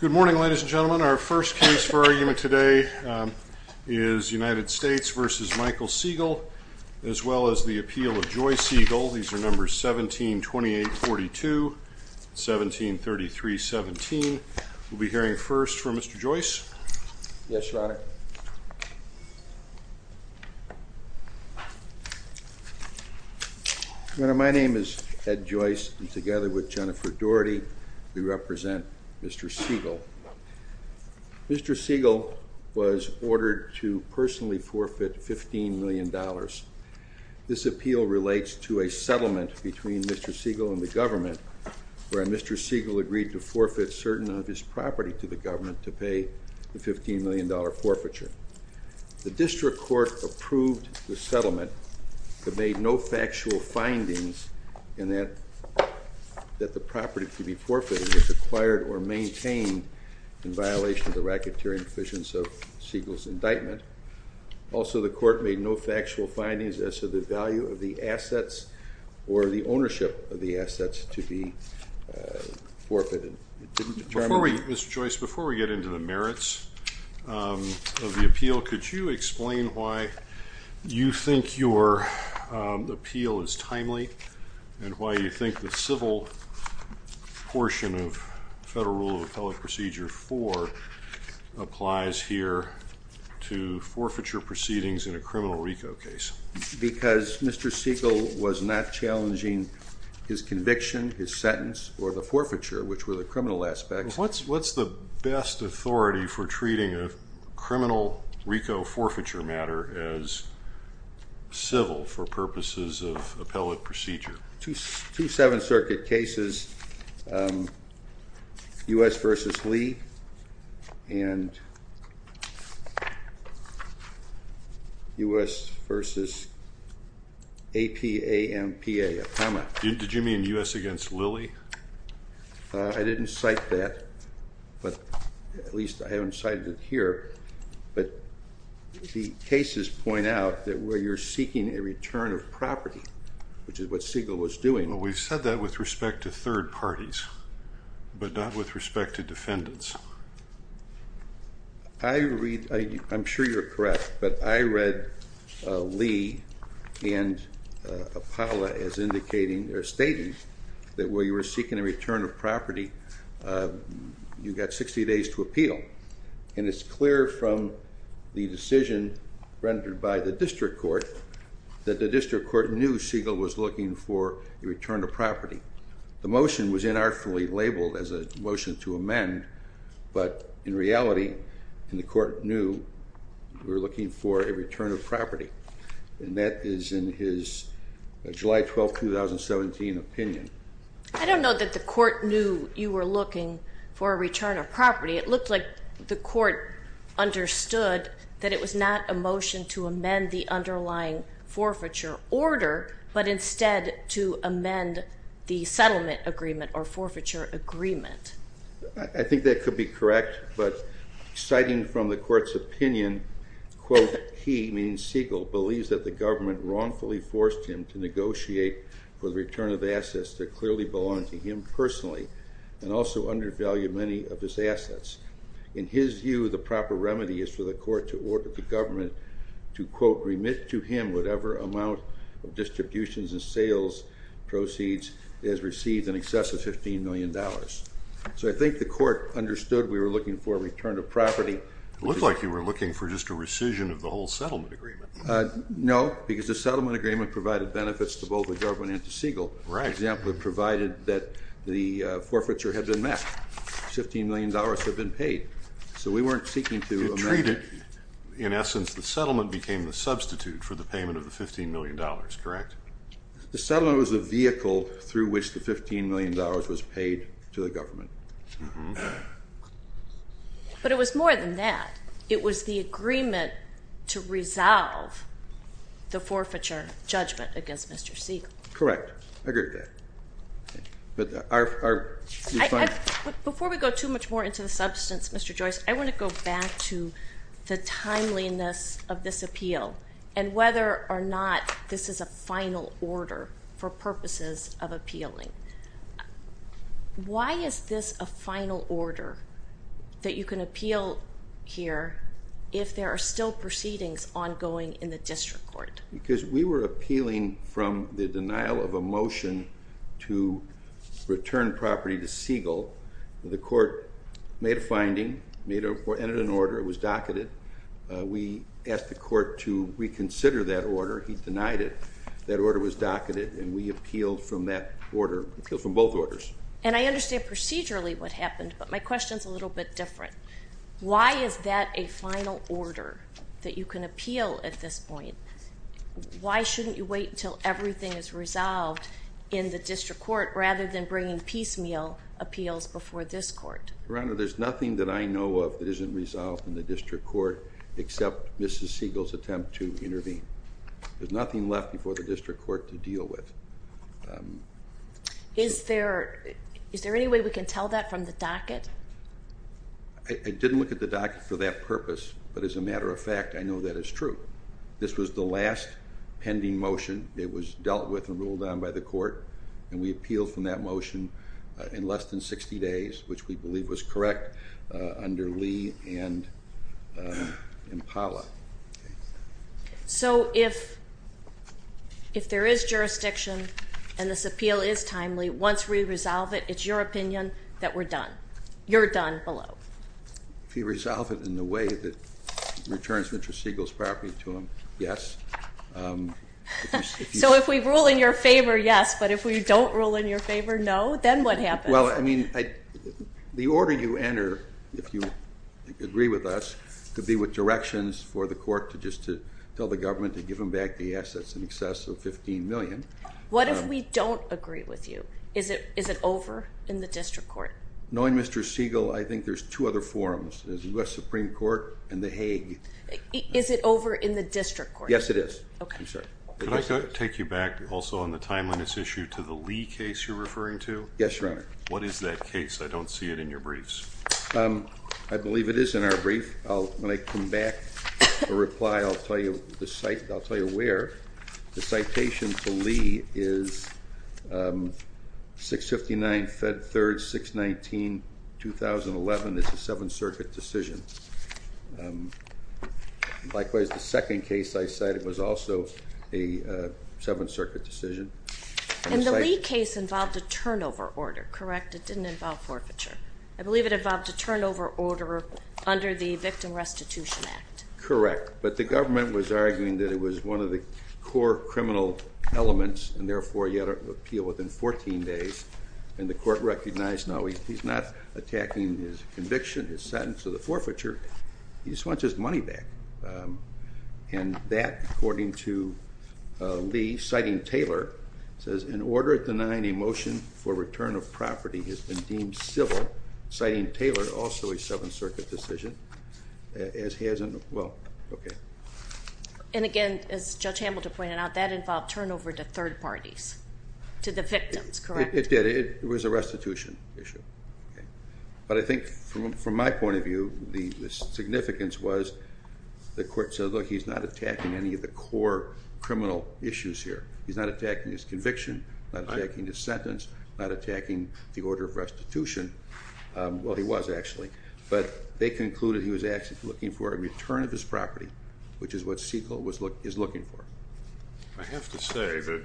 Good morning ladies and gentlemen. Our first case for argument today is United States v. Michael Segal as well as the appeal of Joyce Segal. These are numbers 172842 and 173317. We'll be hearing first from Mr. Joyce. Yes, your honor. My name is Ed Joyce and together with Jennifer Doherty, we represent Mr. Segal. Mr. Segal was ordered to personally forfeit $15 million. This appeal relates to a settlement between Mr. Segal and the government where Mr. Segal agreed to forfeit certain of his property to the government to pay the $15 million forfeiture. The district court approved the settlement but made no factual findings in that the property to be forfeited was acquired or maintained in violation of the racketeering provisions of Segal's indictment. Also, the court made no factual findings as to the value of the assets or the ownership of the assets to be forfeited. Mr. Joyce, before we get into the merits of the appeal, could you explain why you think your appeal is timely and why you think the civil portion of Federal Rule of Appellate Procedure 4 applies here to forfeiture proceedings in a criminal RICO case? Because Mr. Segal was not challenging his conviction, his sentence, or the forfeiture, which were the criminal aspects. What's the best authority for treating a criminal RICO forfeiture matter as civil for purposes of appellate procedure? Two Seventh Circuit cases, U.S. v. Lee and U.S. v. APAMPA. Did you mean U.S. v. Lilly? I didn't cite that, but at least I haven't cited it here. But the cases point out that where you're seeking a return of property, which is what Segal was doing. Well, we've said that with respect to third parties, but not with respect to defendants. I read, I'm sure you're correct, but I read Lee and APALA as indicating or stating that where you were seeking a return of property, you got 60 days to appeal. And it's clear from the decision rendered by the district court that the district court knew Segal was looking for a return of property. The motion was inartfully labeled as a motion to amend, but in reality the court knew you were looking for a return of property. And that is in his July 12, 2017 opinion. I don't know that the court knew you were looking for a return of property. It looked like the court understood that it was not a motion to amend the underlying forfeiture order, but instead to amend the settlement agreement or forfeiture agreement. I think that could be correct, but citing from the court's opinion, quote, he, meaning Segal, believes that the government wrongfully forced him to negotiate for the return of assets that clearly belong to him personally and also undervalue many of his assets. In his view, the proper remedy is for the court to order the government to, quote, remit to him whatever amount of distributions and sales proceeds he has received in excess of $15 million. So I think the court understood we were looking for a return of property. It looked like you were looking for just a rescission of the whole settlement agreement. No, because the settlement agreement provided benefits to both the government and to Segal. Right. For example, it provided that the forfeiture had been met. $15 million had been paid. So we weren't seeking to amend it. To treat it, in essence, the settlement became the substitute for the payment of the $15 million, correct? The settlement was the vehicle through which the $15 million was paid to the government. But it was more than that. It was the agreement to resolve the forfeiture judgment against Mr. Segal. Correct. I agree with that. Before we go too much more into the substance, Mr. Joyce, I want to go back to the timeliness of this appeal and whether or not this is a final order for purposes of appealing. Why is this a final order that you can appeal here if there are still proceedings ongoing in the district court? Because we were appealing from the denial of a motion to return property to Segal. The court made a finding, entered an order. It was docketed. We asked the court to reconsider that order. He denied it. That order was docketed, and we appealed from that order. We appealed from both orders. And I understand procedurally what happened, but my question is a little bit different. Why is that a final order that you can appeal at this point? Why shouldn't you wait until everything is resolved in the district court rather than bringing piecemeal appeals before this court? Your Honor, there's nothing that I know of that isn't resolved in the district court except Mrs. Segal's attempt to intervene. There's nothing left before the district court to deal with. Is there any way we can tell that from the docket? I didn't look at the docket for that purpose, but as a matter of fact, I know that is true. This was the last pending motion that was dealt with and ruled on by the court, and we appealed from that motion in less than 60 days, which we believe was correct under Lee and Impala. So if there is jurisdiction and this appeal is timely, once we resolve it, it's your opinion that we're done. You're done below. If you resolve it in the way that returns Mr. Segal's property to him, yes. So if we rule in your favor, yes, but if we don't rule in your favor, no? Then what happens? Well, I mean, the order you enter, if you agree with us, could be with directions for the court to just tell the government to give him back the assets in excess of $15 million. What if we don't agree with you? Is it over in the district court? Knowing Mr. Segal, I think there's two other forums. There's the U.S. Supreme Court and the Hague. Is it over in the district court? Yes, it is. Could I take you back also on the time limits issue to the Lee case you're referring to? Yes, Your Honor. What is that case? I don't see it in your briefs. I believe it is in our brief. When I come back and reply, I'll tell you where. The citation to Lee is 659 Fed 3rd 619, 2011. It's a Seventh Circuit decision. Likewise, the second case I cited was also a Seventh Circuit decision. And the Lee case involved a turnover order, correct? It didn't involve forfeiture. I believe it involved a turnover order under the Victim Restitution Act. Correct. But the government was arguing that it was one of the core criminal elements and, therefore, he had to appeal within 14 days. And the court recognized, no, he's not attacking his conviction, his sentence, or the forfeiture. He just wants his money back. And that, according to Lee, citing Taylor, says, An order denying a motion for return of property has been deemed civil, citing Taylor, also a Seventh Circuit decision. As has, well, okay. And, again, as Judge Hambleton pointed out, that involved turnover to third parties, to the victims, correct? It did. It was a restitution issue. But I think, from my point of view, the significance was the court said, look, he's not attacking any of the core criminal issues here. He's not attacking his conviction, not attacking his sentence, not attacking the order of restitution. Well, he was, actually. But they concluded he was actually looking for a return of his property, which is what Segal is looking for. I have to say that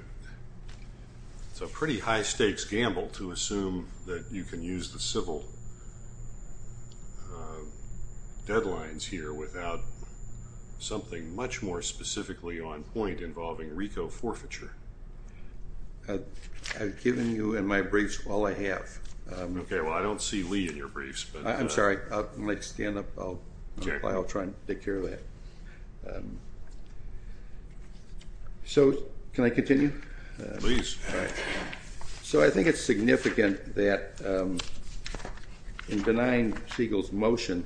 it's a pretty high stakes gamble to assume that you can use the civil deadlines here without something much more specifically on point involving RICO forfeiture. I've given you in my briefs all I have. Okay. Well, I don't see Lee in your briefs. I'm sorry. Stand up. I'll try and take care of that. So can I continue? Please. All right. So I think it's significant that, in denying Segal's motion,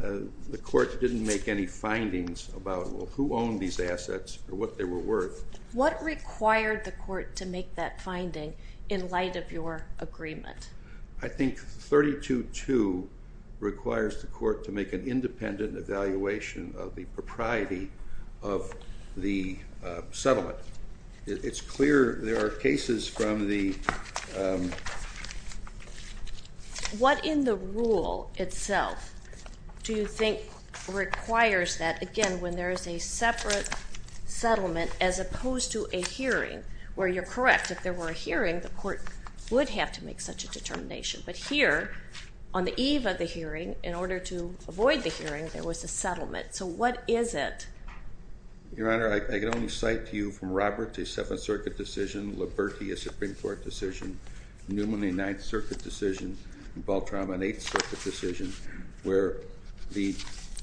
the court didn't make any findings about, well, who owned these assets or what they were worth. What required the court to make that finding in light of your agreement? I think 322 requires the court to make an independent evaluation of the propriety of the settlement. It's clear there are cases from the ---- What in the rule itself do you think requires that, again, when there is a separate settlement as opposed to a hearing, where you're correct, if there were a hearing, the court would have to make such a determination. But here, on the eve of the hearing, in order to avoid the hearing, there was a settlement. So what is it? Your Honor, I can only cite to you from Robert a Seventh Circuit decision, Liberty a Supreme Court decision, Newman a Ninth Circuit decision, and Baltram an Eighth Circuit decision where the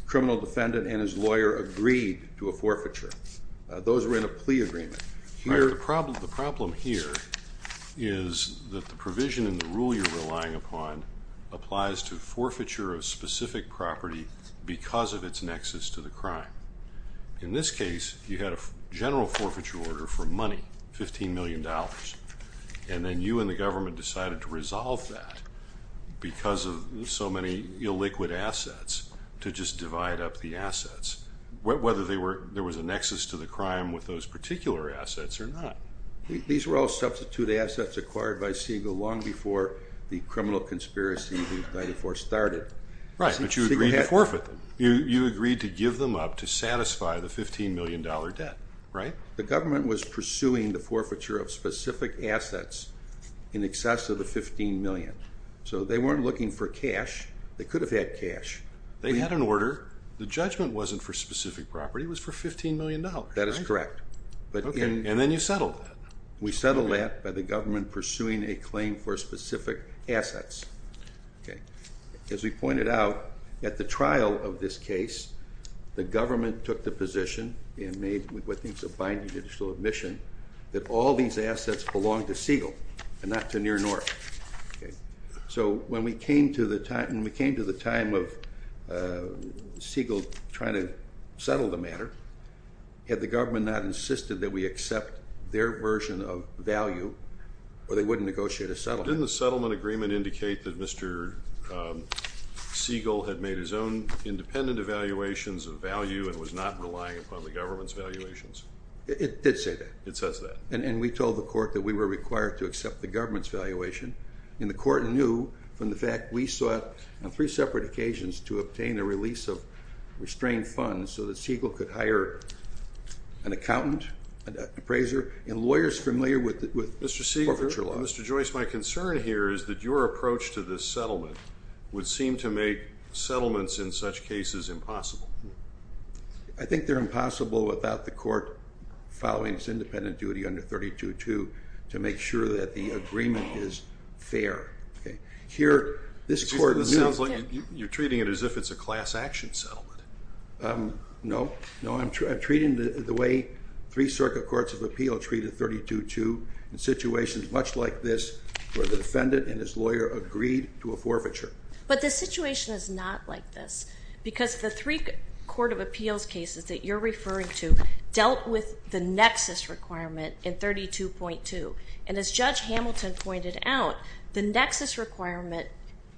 criminal defendant and his lawyer agreed to a forfeiture. Those were in a plea agreement. The problem here is that the provision in the rule you're relying upon applies to forfeiture of specific property because of its nexus to the crime. In this case, you had a general forfeiture order for money, $15 million, and then you and the government decided to resolve that because of so many illiquid assets to just divide up the assets. Whether there was a nexus to the crime with those particular assets or not. These were all substitute assets acquired by Siegel long before the criminal conspiracy of 1994 started. Right, but you agreed to forfeit them. You agreed to give them up to satisfy the $15 million debt, right? The government was pursuing the forfeiture of specific assets in excess of the $15 million. So they weren't looking for cash. They could have had cash. They had an order. The judgment wasn't for specific property. It was for $15 million. That is correct. And then you settled it. We settled that by the government pursuing a claim for specific assets. As we pointed out, at the trial of this case, the government took the position and made what I think is a binding judicial admission that all these assets belonged to Siegel and not to Near North. So when we came to the time of Siegel trying to settle the matter, had the government not insisted that we accept their version of value or they wouldn't negotiate a settlement. Didn't the settlement agreement indicate that Mr. Siegel had made his own independent evaluations of value and was not relying upon the government's valuations? It did say that. It says that. And we told the court that we were required to accept the government's valuation. And the court knew from the fact we sought on three separate occasions to obtain a release of restrained funds so that Siegel could hire an accountant, an appraiser, and lawyers familiar with forfeiture law. Mr. Siegel, Mr. Joyce, my concern here is that your approach to this settlement would seem to make settlements in such cases impossible. I think they're impossible without the court following its independent duty under 32-2 to make sure that the agreement is fair. You're treating it as if it's a class action settlement. No. No, I'm treating it the way three circuit courts of appeal treat a 32-2 in situations much like this where the defendant and his lawyer agreed to a forfeiture. But the situation is not like this because the three court of appeals cases that you're referring to dealt with the nexus requirement in 32-2. And as Judge Hamilton pointed out, the nexus requirement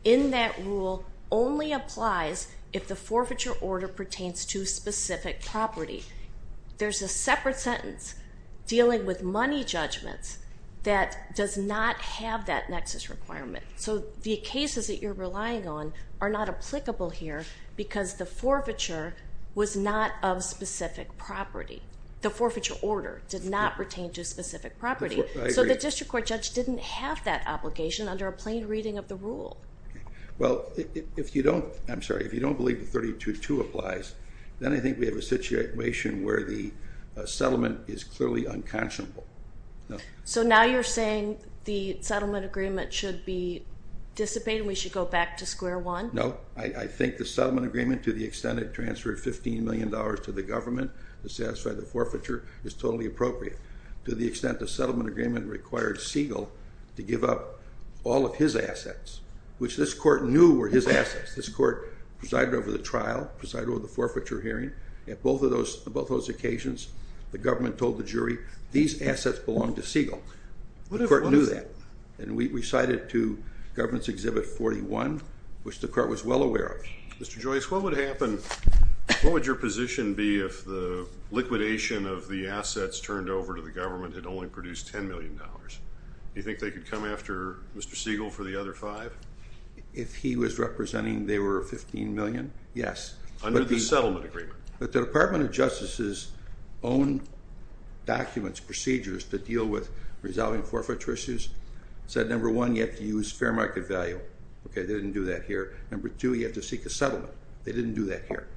in that rule only applies if the forfeiture order pertains to specific property. There's a separate sentence dealing with money judgments that does not have that nexus requirement. So the cases that you're relying on are not applicable here because the forfeiture was not of specific property. The forfeiture order did not pertain to specific property. So the district court judge didn't have that obligation under a plain reading of the rule. Well, if you don't, I'm sorry, if you don't believe that 32-2 applies, then I think we have a situation where the settlement is clearly unconscionable. So now you're saying the settlement agreement should be dissipated and we should go back to square one? No, I think the settlement agreement to the extent it transferred $15 million to the government to satisfy the forfeiture is totally appropriate. To the extent the settlement agreement required Siegel to give up all of his assets, which this court knew were his assets. This court presided over the trial, presided over the forfeiture hearing. At both of those occasions, the government told the jury, these assets belong to Siegel. The court knew that. And we cited to government's Exhibit 41, which the court was well aware of. Mr. Joyce, what would happen, what would your position be if the liquidation of the assets turned over to the government had only produced $10 million? Do you think they could come after Mr. Siegel for the other five? If he was representing they were $15 million, yes. Under the settlement agreement. But the Department of Justice's own documents, procedures that deal with resolving forfeiture issues said, number one, you have to use fair market value. Okay, they didn't do that here. Number two, you have to seek a settlement. They didn't do that here.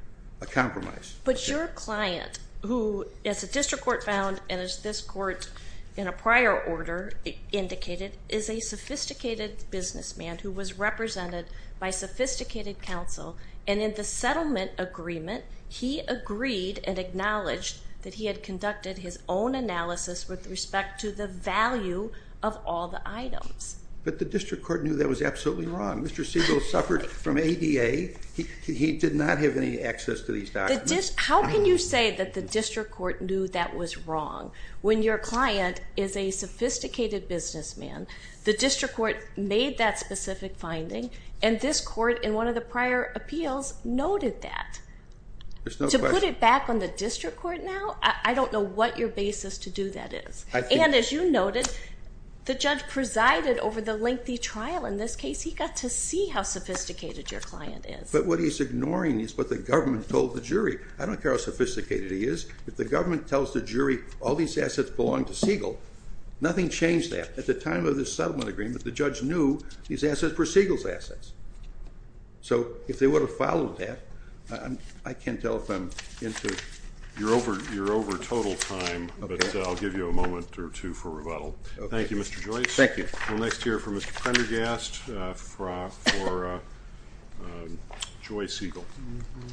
A compromise. But your client, who, as the district court found, and as this court in a prior order indicated, is a sophisticated businessman who was represented by sophisticated counsel. And in the settlement agreement, he agreed and acknowledged that he had conducted his own analysis with respect to the value of all the items. But the district court knew that was absolutely wrong. Mr. Siegel suffered from ADA. He did not have any access to these documents. How can you say that the district court knew that was wrong when your client is a sophisticated businessman? The district court made that specific finding, and this court in one of the prior appeals noted that. There's no question. To put it back on the district court now, I don't know what your basis to do that is. And as you noted, the judge presided over the lengthy trial in this case. He got to see how sophisticated your client is. But what he's ignoring is what the government told the jury. I don't care how sophisticated he is. If the government tells the jury all these assets belong to Siegel, nothing changed that. At the time of the settlement agreement, the judge knew these assets were Siegel's assets. So if they would have followed that, I can't tell if I'm into it. You're over total time, but I'll give you a moment or two for rebuttal. Thank you, Mr. Joyce. Thank you. We'll next hear from Mr. Prendergast for Joyce Siegel. Mm-hmm.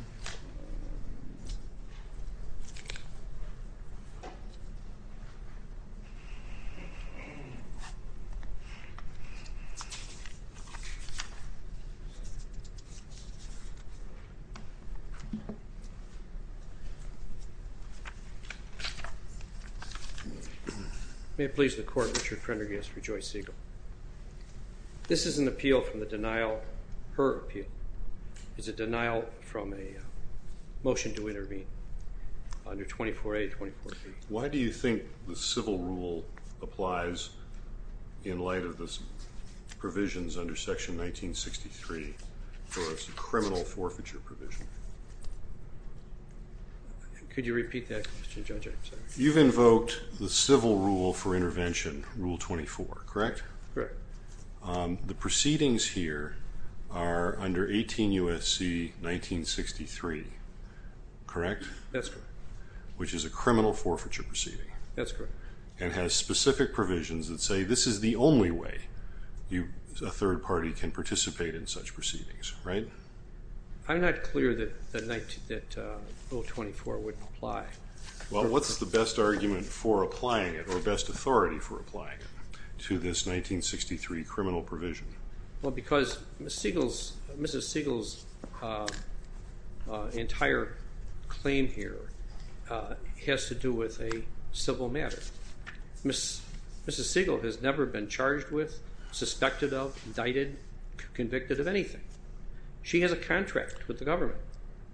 May it please the court, Richard Prendergast for Joyce Siegel. This is an appeal from the denial, her appeal. It's a denial from a motion to intervene under 24A, 24B. Why do you think the civil rule applies in light of the provisions under Section 1963 for a criminal forfeiture provision? Could you repeat that question, Judge? You've invoked the civil rule for intervention, Rule 24, correct? Correct. The proceedings here are under 18 U.S.C. 1963, correct? That's correct. Which is a criminal forfeiture proceeding. That's correct. And has specific provisions that say this is the only way a third party can participate in such proceedings, right? I'm not clear that Rule 24 wouldn't apply. Well, what's the best argument for applying it or best authority for applying it to this 1963 criminal provision? Well, because Mrs. Siegel's entire claim here has to do with a civil matter. Mrs. Siegel has never been charged with, suspected of, indicted, convicted of anything. She has a contract with the government.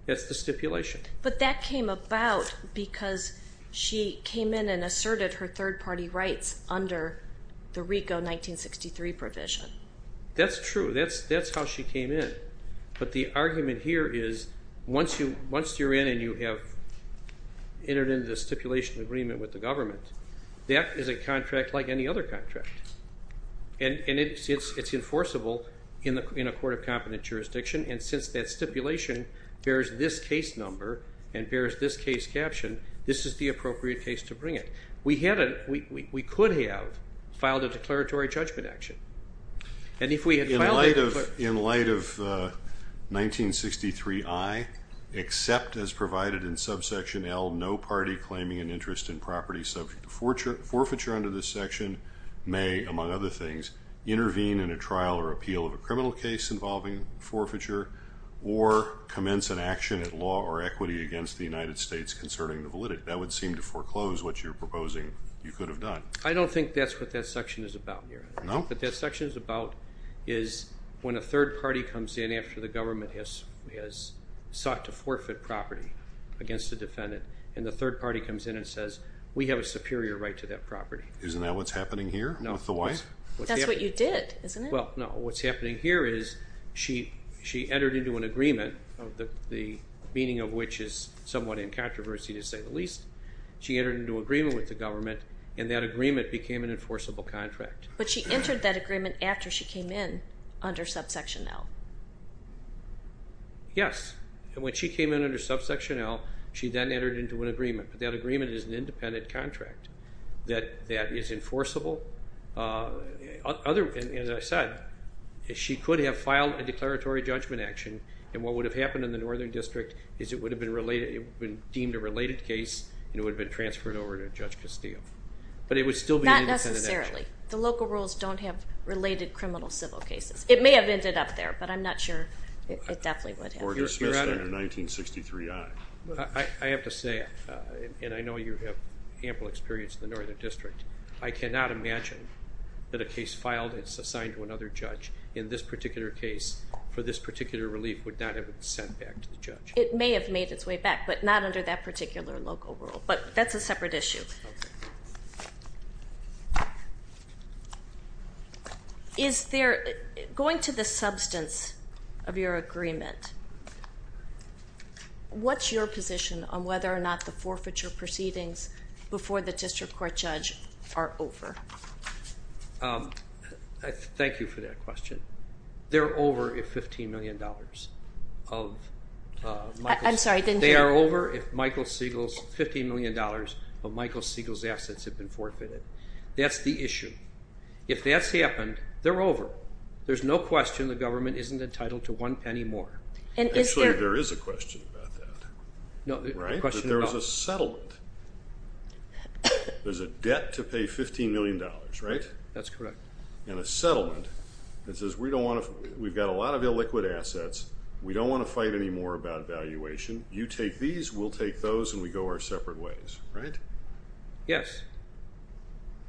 That's the stipulation. But that came about because she came in and asserted her third party rights under the RICO 1963 provision. That's true. That's how she came in. But the argument here is once you're in and you have entered into a stipulation agreement with the government, that is a contract like any other contract. And it's enforceable in a court of competent jurisdiction. And since that stipulation bears this case number and bears this case caption, this is the appropriate case to bring it. We could have filed a declaratory judgment action. In light of 1963I, except as provided in subsection L, no party claiming an interest in property subject to forfeiture under this section may, among other things, intervene in a trial or appeal of a criminal case involving forfeiture or commence an action at law or equity against the United States concerning the validity. That would seem to foreclose what you're proposing you could have done. I don't think that's what that section is about. No? What that section is about is when a third party comes in after the government has sought to forfeit property against a defendant and the third party comes in and says, we have a superior right to that property. Isn't that what's happening here? No. That's what you did, isn't it? Well, no. What's happening here is she entered into an agreement, the meaning of which is somewhat in controversy to say the least. She entered into agreement with the government, and that agreement became an enforceable contract. But she entered that agreement after she came in under subsection L. Yes. And when she came in under subsection L, she then entered into an agreement. That agreement is an independent contract that is enforceable. As I said, she could have filed a declaratory judgment action, and what would have happened in the Northern District is it would have been deemed a related case and it would have been transferred over to Judge Castillo. But it would still be an independent action. Not necessarily. The local rules don't have related criminal civil cases. It may have ended up there, but I'm not sure it definitely would have. Or dismissed under 1963I. I have to say, and I know you have ample experience in the Northern District, I cannot imagine that a case filed and it's assigned to another judge in this particular case for this particular relief would not have been sent back to the judge. It may have made its way back, but not under that particular local rule. But that's a separate issue. Okay. Going to the substance of your agreement, what's your position on whether or not the forfeiture proceedings before the district court judge are over? Thank you for that question. They're over if $15 million of Michael Siegel's. I'm sorry, I didn't hear you. They are over if $15 million of Michael Siegel's assets have been forfeited. That's the issue. If that's happened, they're over. There's no question the government isn't entitled to one penny more. Actually, there is a question about that. Right? There was a settlement. There's a debt to pay $15 million, right? That's correct. And a settlement that says we've got a lot of illiquid assets. We don't want to fight anymore about valuation. You take these, we'll take those, and we go our separate ways. Right? Yes.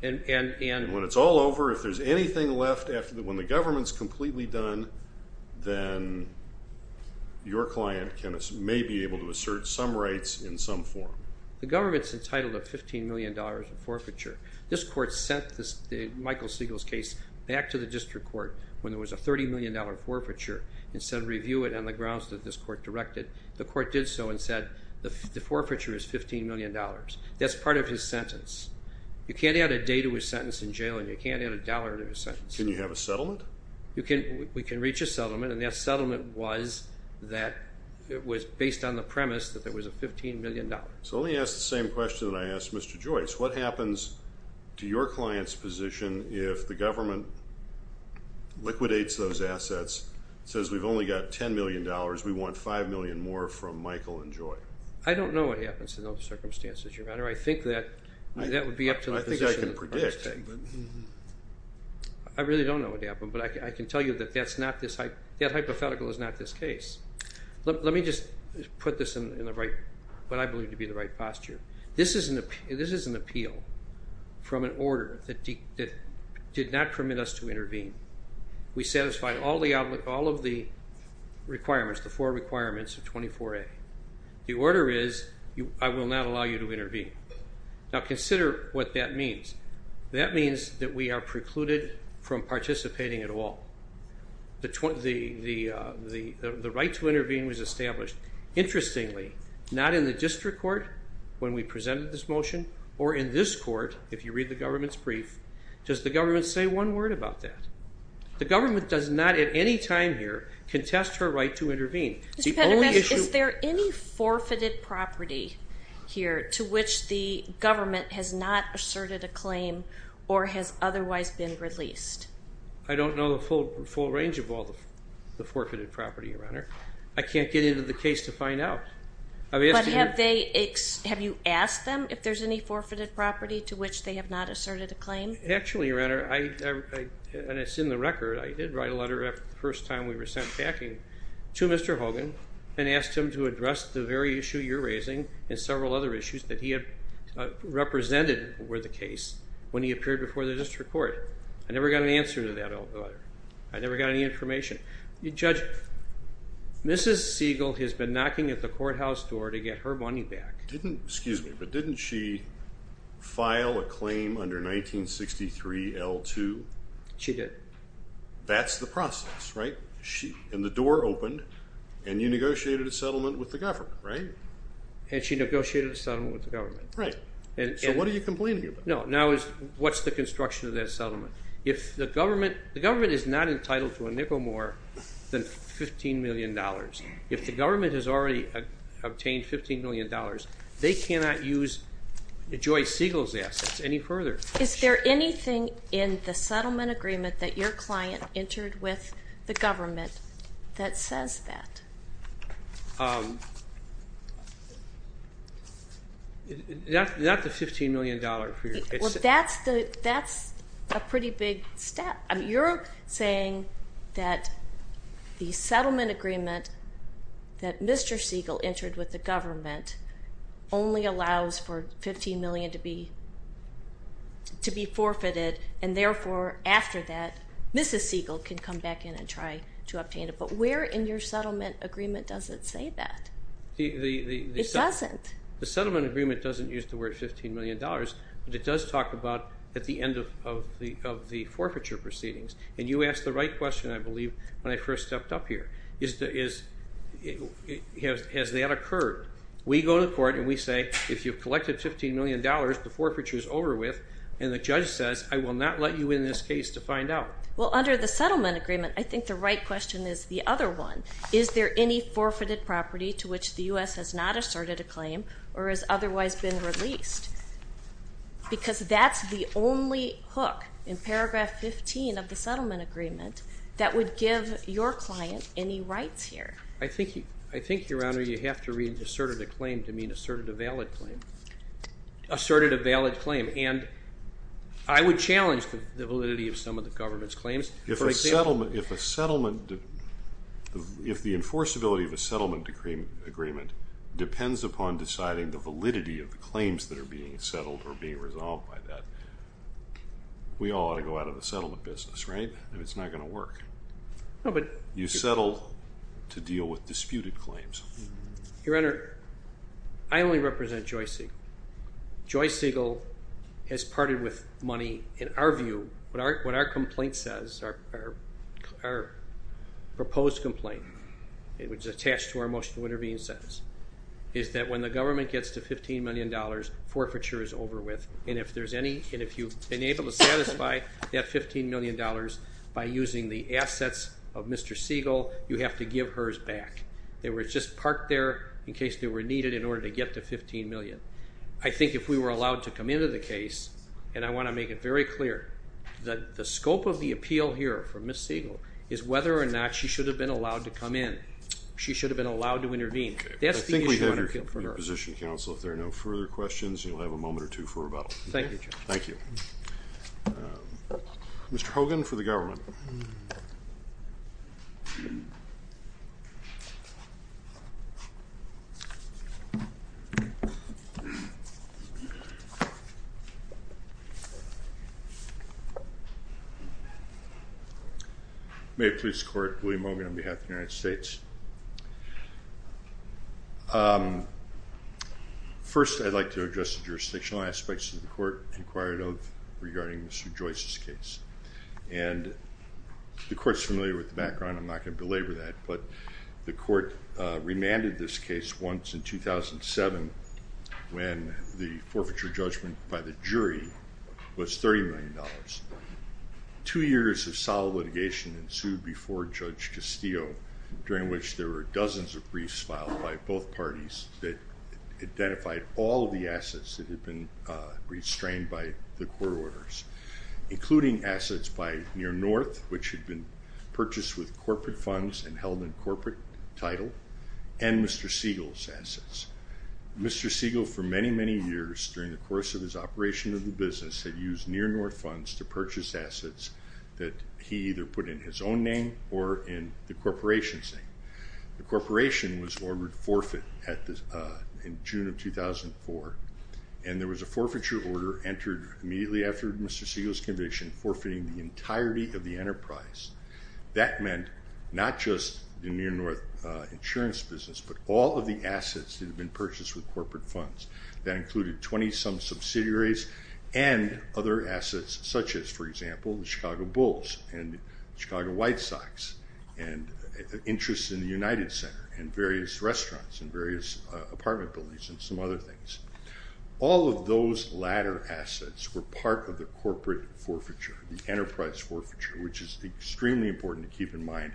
And when it's all over, if there's anything left when the government's completely done, then your client may be able to assert some rights in some form. The government's entitled to $15 million of forfeiture. This court sent Michael Siegel's case back to the district court when there was a $30 million forfeiture and said review it on the grounds that this court directed. The court did so and said the forfeiture is $15 million. That's part of his sentence. You can't add a day to a sentence in jail and you can't add a dollar to a sentence. Can you have a settlement? We can reach a settlement, and that settlement was based on the premise that there was a $15 million. So let me ask the same question that I asked Mr. Joyce. What happens to your client's position if the government liquidates those assets, says we've only got $10 million, we want $5 million more from Michael and Joy? I don't know what happens in those circumstances, Your Honor. I think that would be up to the figures. I can predict. I really don't know what would happen, but I can tell you that hypothetical is not this case. Let me just put this in what I believe to be the right posture. This is an appeal from an order that did not permit us to intervene. We satisfied all of the requirements, the four requirements of 24A. The order is I will not allow you to intervene. Now consider what that means. That means that we are precluded from participating at all. The right to intervene was established, interestingly, not in the district court when we presented this motion or in this court, if you read the government's brief, does the government say one word about that? The government does not at any time here contest her right to intervene. Mr. Petermans, is there any forfeited property here to which the government has not asserted a claim or has otherwise been released? I don't know the full range of all the forfeited property, Your Honor. I can't get into the case to find out. But have you asked them if there's any forfeited property to which they have not asserted a claim? Actually, Your Honor, and it's in the record, I did write a letter the first time we were sent packing to Mr. Hogan and asked him to address the very issue you're raising and several other issues that he had represented were the case when he appeared before the district court. I never got an answer to that letter. I never got any information. Judge, Mrs. Siegel has been knocking at the courthouse door to get her money back. Excuse me, but didn't she file a claim under 1963L2? She did. That's the process, right? And the door opened and you negotiated a settlement with the government, right? And she negotiated a settlement with the government. Right. So what are you complaining about? No, now what's the construction of that settlement? The government is not entitled to a nickel more than $15 million. If the government has already obtained $15 million, they cannot use Joyce Siegel's assets any further. Is there anything in the settlement agreement that your client entered with the government that says that? Not the $15 million. That's a pretty big step. You're saying that the settlement agreement that Mr. Siegel entered with the government only allows for $15 million to be forfeited, and therefore after that Mrs. Siegel can come back in and try to obtain it. But where in your settlement agreement does it say that? It doesn't. The settlement agreement doesn't use the word $15 million, but it does talk about at the end of the forfeiture proceedings. And you asked the right question, I believe, when I first stepped up here. Has that occurred? We go to court and we say, if you've collected $15 million, the forfeiture is over with, and the judge says, I will not let you win this case to find out. Well, under the settlement agreement, I think the right question is the other one. Is there any forfeited property to which the U.S. has not asserted a claim or has otherwise been released? Because that's the only hook in paragraph 15 of the settlement agreement that would give your client any rights here. I think, Your Honor, you have to read asserted a claim to mean asserted a valid claim. Asserted a valid claim, and I would challenge the validity of some of the government's claims. If the enforceability of a settlement agreement depends upon deciding the validity of the claims that are being settled or being resolved by that, we all ought to go out of the settlement business, right? It's not going to work. You settle to deal with disputed claims. Your Honor, I only represent Joyce Siegel. Joyce Siegel has parted with money, in our view, and what our complaint says, our proposed complaint, which is attached to our motion to intervene says, is that when the government gets to $15 million, forfeiture is over with, and if you've been able to satisfy that $15 million by using the assets of Mr. Siegel, you have to give hers back. They were just parked there in case they were needed in order to get to $15 million. I think if we were allowed to come into the case, and I want to make it very clear that the scope of the appeal here for Ms. Siegel is whether or not she should have been allowed to come in. She should have been allowed to intervene. I think we have your position, counsel. If there are no further questions, you'll have a moment or two for rebuttal. Thank you, Judge. Thank you. Mr. Hogan for the government. May it please the Court. William Hogan on behalf of the United States. First, I'd like to address the jurisdictional aspects that the Court inquired of regarding Mr. Joyce's case. The Court is familiar with the background. I'm not going to belabor that, but the Court remanded this case once in 2007 when the forfeiture judgment by the jury was $30 million. Two years of solid litigation ensued before Judge Castillo, during which there were dozens of briefs filed by both parties that identified all of the assets that had been restrained by the court orders, including assets by Near North, which had been purchased with corporate funds and held in corporate title, and Mr. Siegel's assets. Mr. Siegel, for many, many years, during the course of his operation of the business, had used Near North funds to purchase assets that he either put in his own name or in the corporation's name. The corporation was ordered forfeit in June of 2004, and there was a forfeiture order entered immediately after Mr. Siegel's conviction, forfeiting the entirety of the enterprise. That meant not just the Near North insurance business, but all of the assets that had been purchased with corporate funds. That included 20-some subsidiaries and other assets such as, for example, the Chicago Bulls and the Chicago White Sox, and interests in the United Center and various restaurants and various apartment buildings and some other things. All of those latter assets were part of the corporate forfeiture, the enterprise forfeiture, which is extremely important to keep in mind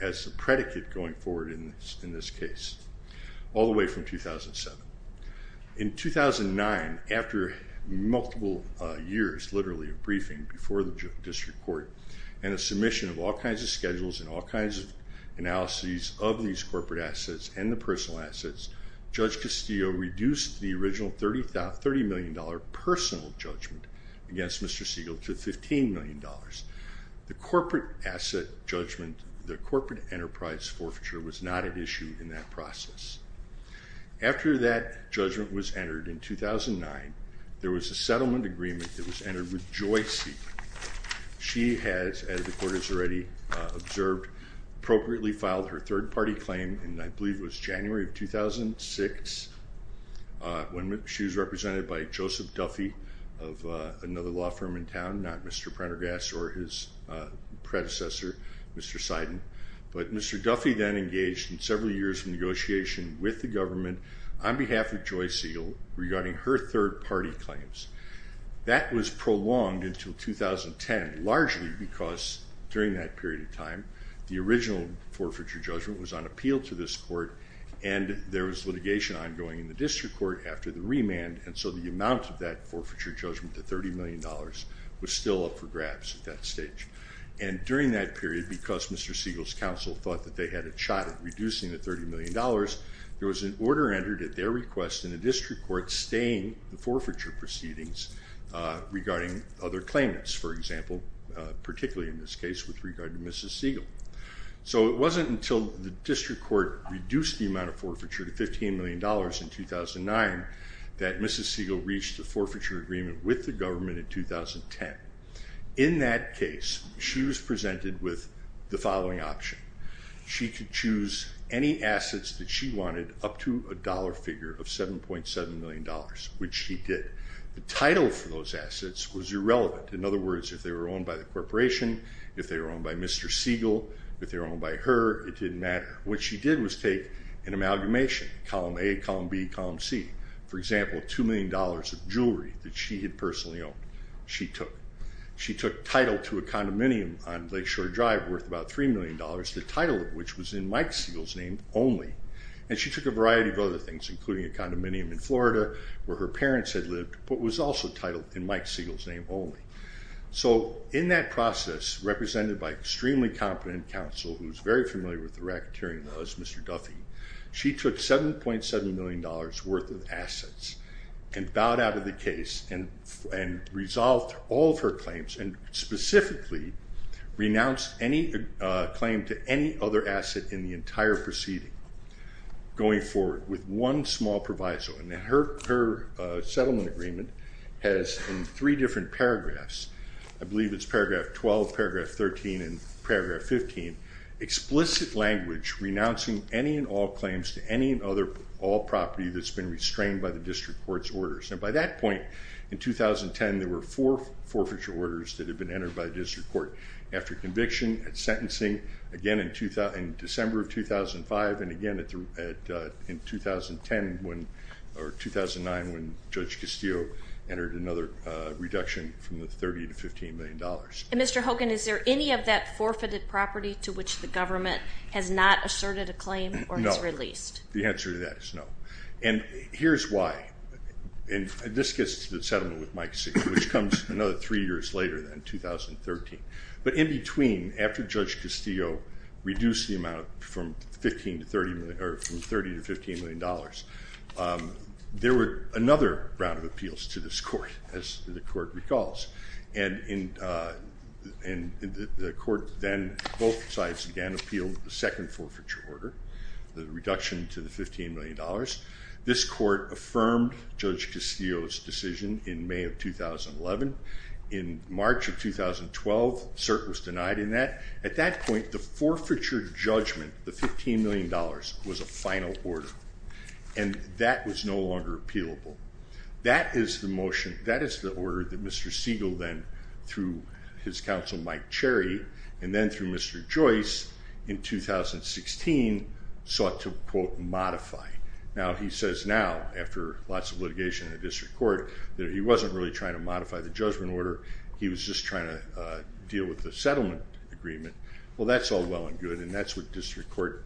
as a predicate going forward in this case, all the way from 2007. In 2009, after multiple years, literally a briefing before the district court, and a submission of all kinds of schedules and all kinds of analyses of these corporate assets and the personal assets, Judge Castillo reduced the original $30 million personal judgment against Mr. Siegel to $15 million. The corporate asset judgment, the corporate enterprise forfeiture, was not an issue in that process. After that judgment was entered in 2009, there was a settlement agreement that was entered with Joy Siegel. She has, as the court has already observed, appropriately filed her third-party claim, and I believe it was January of 2006 when she was represented by Joseph Duffy of another law firm in town, not Mr. Prendergast or his predecessor, Mr. Seiden. But Mr. Duffy then engaged in several years of negotiation with the government on behalf of Joy Siegel regarding her third-party claims. That was prolonged until 2010, largely because during that period of time the original forfeiture judgment was on appeal to this court, and there was litigation ongoing in the district court after the remand, and so the amount of that forfeiture judgment, the $30 million, was still up for grabs at that stage. And during that period, because Mr. Siegel's counsel thought that they had a shot at reducing the $30 million, there was an order entered at their request in the district court staying the forfeiture proceedings regarding other claimants, for example, particularly in this case with regard to Mrs. Siegel. So it wasn't until the district court reduced the amount of forfeiture to $15 million in 2009 that Mrs. Siegel reached a forfeiture agreement with the government in 2010. In that case, she was presented with the following option. She could choose any assets that she wanted up to a dollar figure of $7.7 million, which she did. The title for those assets was irrelevant. In other words, if they were owned by the corporation, if they were owned by Mr. Siegel, if they were owned by her, it didn't matter. What she did was take an amalgamation, column A, column B, column C. For example, $2 million of jewelry that she had personally owned, she took. She took title to a condominium on Lakeshore Drive worth about $3 million, the title of which was in Mike Siegel's name only. And she took a variety of other things, including a condominium in Florida where her parents had lived, but was also titled in Mike Siegel's name only. So in that process, represented by extremely competent counsel, who's very familiar with the racketeering laws, Mr. Duffy, she took $7.7 million worth of assets and bowed out of the case and resolved all of her claims and specifically renounced any claim to any other asset in the entire proceeding going forward with one small proviso. And her settlement agreement has three different paragraphs. I believe it's paragraph 12, paragraph 13, and paragraph 15. Explicit language renouncing any and all claims to any and all property that's been restrained by the district court's orders. And by that point, in 2010, there were four forfeiture orders that had been entered by the district court after conviction, at sentencing, again in December of 2005, and again in 2010 or 2009 when Judge Castillo entered another reduction from the $30 to $15 million. And Mr. Hogan, is there any of that forfeited property to which the government has not asserted a claim or has released? No. The answer to that is no. And here's why. And this gets to the settlement with Mike Siegel, which comes another three years later than, 2013. But in between, after Judge Castillo reduced the amount from $30 to $15 million, there were another round of appeals to this court, as the court recalls. And the court then, both sides again, appealed the second forfeiture order, the reduction to the $15 million. This court affirmed Judge Castillo's decision in May of 2011. In March of 2012, cert was denied in that. At that point, the forfeiture judgment, the $15 million, was a final order. And that was no longer appealable. That is the order that Mr. Siegel then, through his counsel Mike Cherry, and then through Mr. Joyce, in 2016, sought to, quote, modify. Now, he says now, after lots of litigation in the district court, that he wasn't really trying to modify the judgment order, he was just trying to deal with the settlement agreement. Well, that's all well and good, and that's what district court,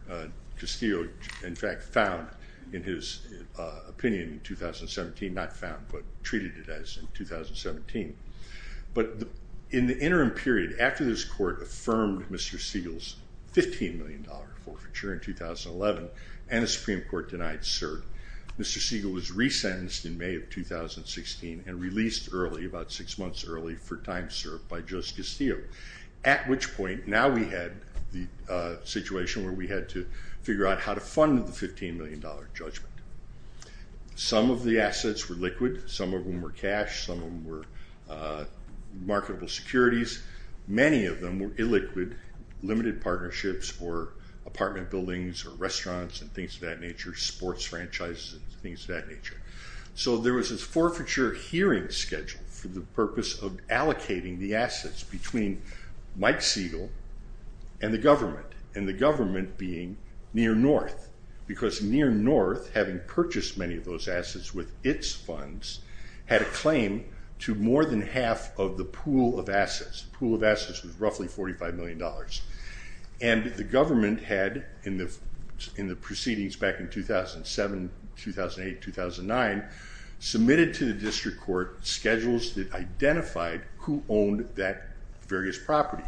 Castillo, in fact, found in his opinion in 2017. Not found, but treated it as in 2017. But in the interim period, after this court affirmed Mr. Siegel's $15 million forfeiture in 2011, and the Supreme Court denied cert, Mr. Siegel was resentenced in May of 2016 and released early, about six months early, for time served by Judge Castillo. At which point, now we had the situation where we had to figure out how to fund the $15 million judgment. Some of the assets were liquid. Some of them were cash. Some of them were marketable securities. Many of them were illiquid, limited partnerships or apartment buildings or restaurants and things of that nature, sports franchises and things of that nature. So there was this forfeiture hearing scheduled for the purpose of allocating the assets between Mike Siegel and the government, and the government being Near North, because Near North, having purchased many of those assets with its funds, had a claim to more than half of the pool of assets. The pool of assets was roughly $45 million. And the government had, in the proceedings back in 2007, 2008, 2009, submitted to the district court schedules that identified who owned that various property.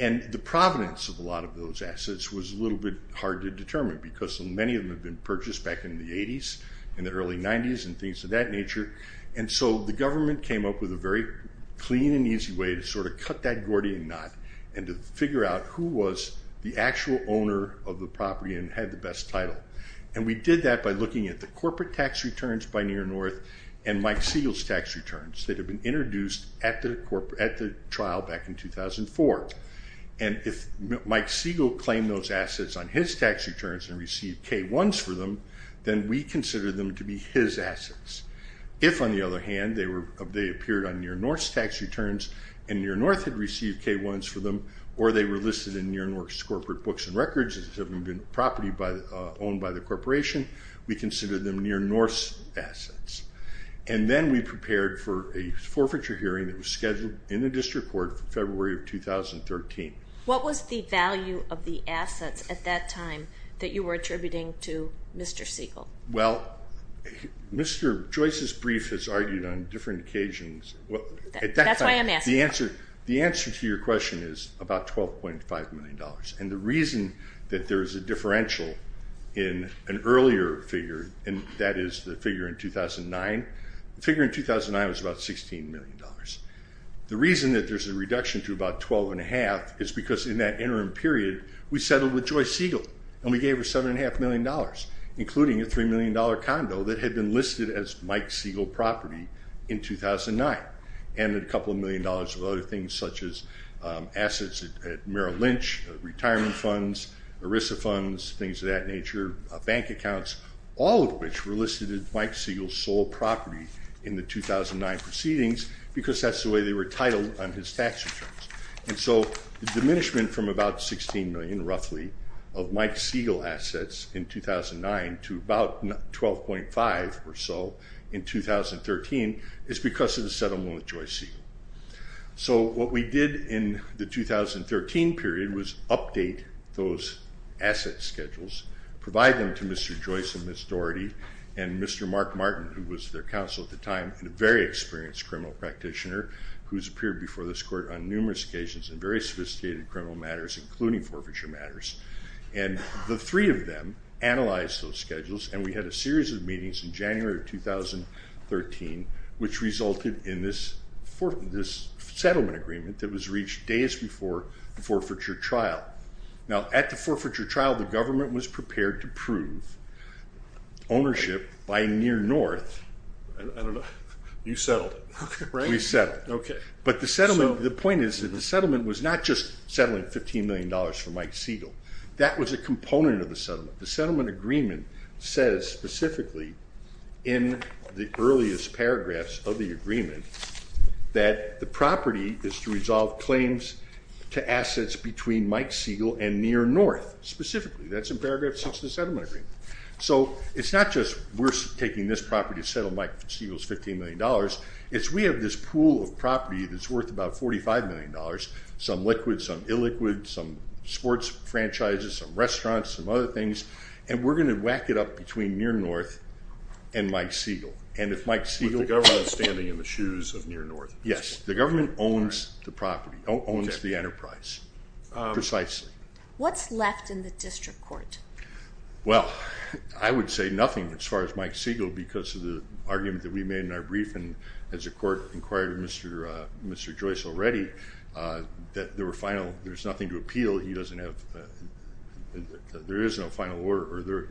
And the provenance of a lot of those assets was a little bit hard to determine because many of them had been purchased back in the 80s, in the early 90s, and things of that nature. And so the government came up with a very clean and easy way to sort of cut that Gordian knot and to figure out who was the actual owner of the property and had the best title. And we did that by looking at the corporate tax returns by Near North and Mike Siegel's tax returns that had been introduced at the trial back in 2004. And if Mike Siegel claimed those assets on his tax returns and received K-1s for them, then we considered them to be his assets. If, on the other hand, they appeared on Near North's tax returns and Near North had received K-1s for them, or they were listed in Near North's corporate books and records as having been property owned by the corporation, we considered them Near North's assets. And then we prepared for a forfeiture hearing that was scheduled in the district court for February of 2013. What was the value of the assets at that time that you were attributing to Mr. Siegel? Well, Mr. Joyce's brief has argued on different occasions. That's why I'm asking. The answer to your question is about $12.5 million. And the reason that there is a differential in an earlier figure, and that is the figure in 2009. The figure in 2009 was about $16 million. The reason that there's a reduction to about $12.5 million is because in that interim period we settled with Joyce Siegel and we gave her $7.5 million, including a $3 million condo that had been listed as Mike Siegel property in 2009 and a couple of million dollars of other things, such as assets at Merrill Lynch, retirement funds, ERISA funds, things of that nature, bank accounts, all of which were listed as Mike Siegel's sole property in the 2009 proceedings because that's the way they were titled on his tax returns. And so the diminishment from about $16 million roughly of Mike Siegel assets in 2009 to about $12.5 or so in 2013 is because of the settlement with Joyce Siegel. So what we did in the 2013 period was update those asset schedules, provide them to Mr. Joyce and Ms. Doherty and Mr. Mark Martin, who was their counsel at the time, and a very experienced criminal practitioner who's appeared before this court on numerous occasions in very sophisticated criminal matters, including forfeiture matters. And the three of them analyzed those schedules, and we had a series of meetings in January of 2013, which resulted in this settlement agreement that was reached days before the forfeiture trial. Now, at the forfeiture trial, the government was prepared to prove ownership by Near North. I don't know. You settled it, right? We settled it. Okay. But the settlement, the point is that the settlement was not just settling $15 million for Mike Siegel. That was a component of the settlement. The settlement agreement says specifically in the earliest paragraphs of the agreement that the property is to resolve claims to assets between Mike Siegel and Near North specifically. That's in paragraph 6 of the settlement agreement. So it's not just we're taking this property to settle Mike Siegel's $15 million. It's we have this pool of property that's worth about $45 million, some liquid, some illiquid, some sports franchises, some restaurants, some other things, and we're going to whack it up between Near North and Mike Siegel. And if Mike Siegel- With the government standing in the shoes of Near North. Yes. The government owns the property, owns the enterprise precisely. What's left in the district court? Well, I would say nothing as far as Mike Siegel because of the argument that we made in our briefing as the court inquired of Mr. Joyce already, that there's nothing to appeal. He doesn't have, there is no final order.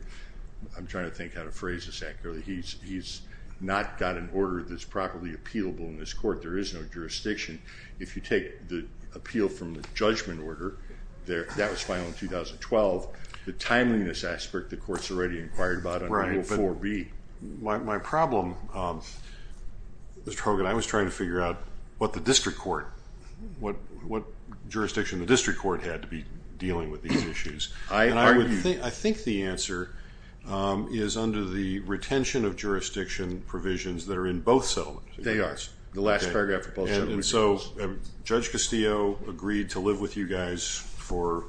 I'm trying to think how to phrase this accurately. He's not got an order that's properly appealable in this court. There is no jurisdiction. If you take the appeal from the judgment order, that was final in 2012, the timeliness aspect, the court's already inquired about under Rule 4B. My problem, Mr. Hogan, I was trying to figure out what the district court, what jurisdiction the district court had to be dealing with these issues. And I think the answer is under the retention of jurisdiction provisions that are in both settlements. They are. The last paragraph of Paul Shepard's- And so Judge Castillo agreed to live with you guys for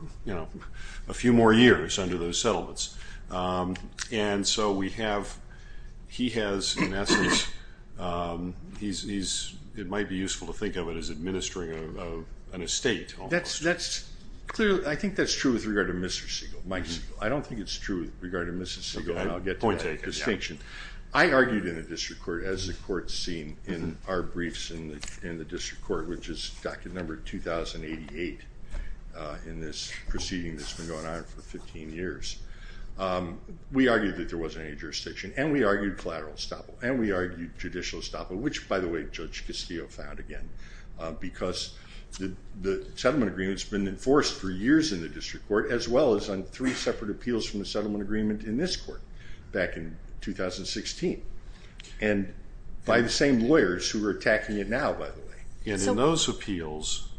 a few more years under those settlements. And so we have, he has, in essence, it might be useful to think of it as administering an estate. That's clearly, I think that's true with regard to Mr. Siegel. I don't think it's true with regard to Mrs. Siegel, and I'll get to that distinction. I argued in the district court, as the court's seen in our briefs in the district court, which is docket number 2088 in this proceeding that's been going on for 15 years. We argued that there wasn't any jurisdiction, and we argued collateral estoppel, and we argued judicial estoppel, which, by the way, Judge Castillo found again, because the settlement agreement's been enforced for years in the district court, as well as on three separate appeals from the settlement agreement in this court back in 2016, and by the same lawyers who are attacking it now, by the way. And in those appeals,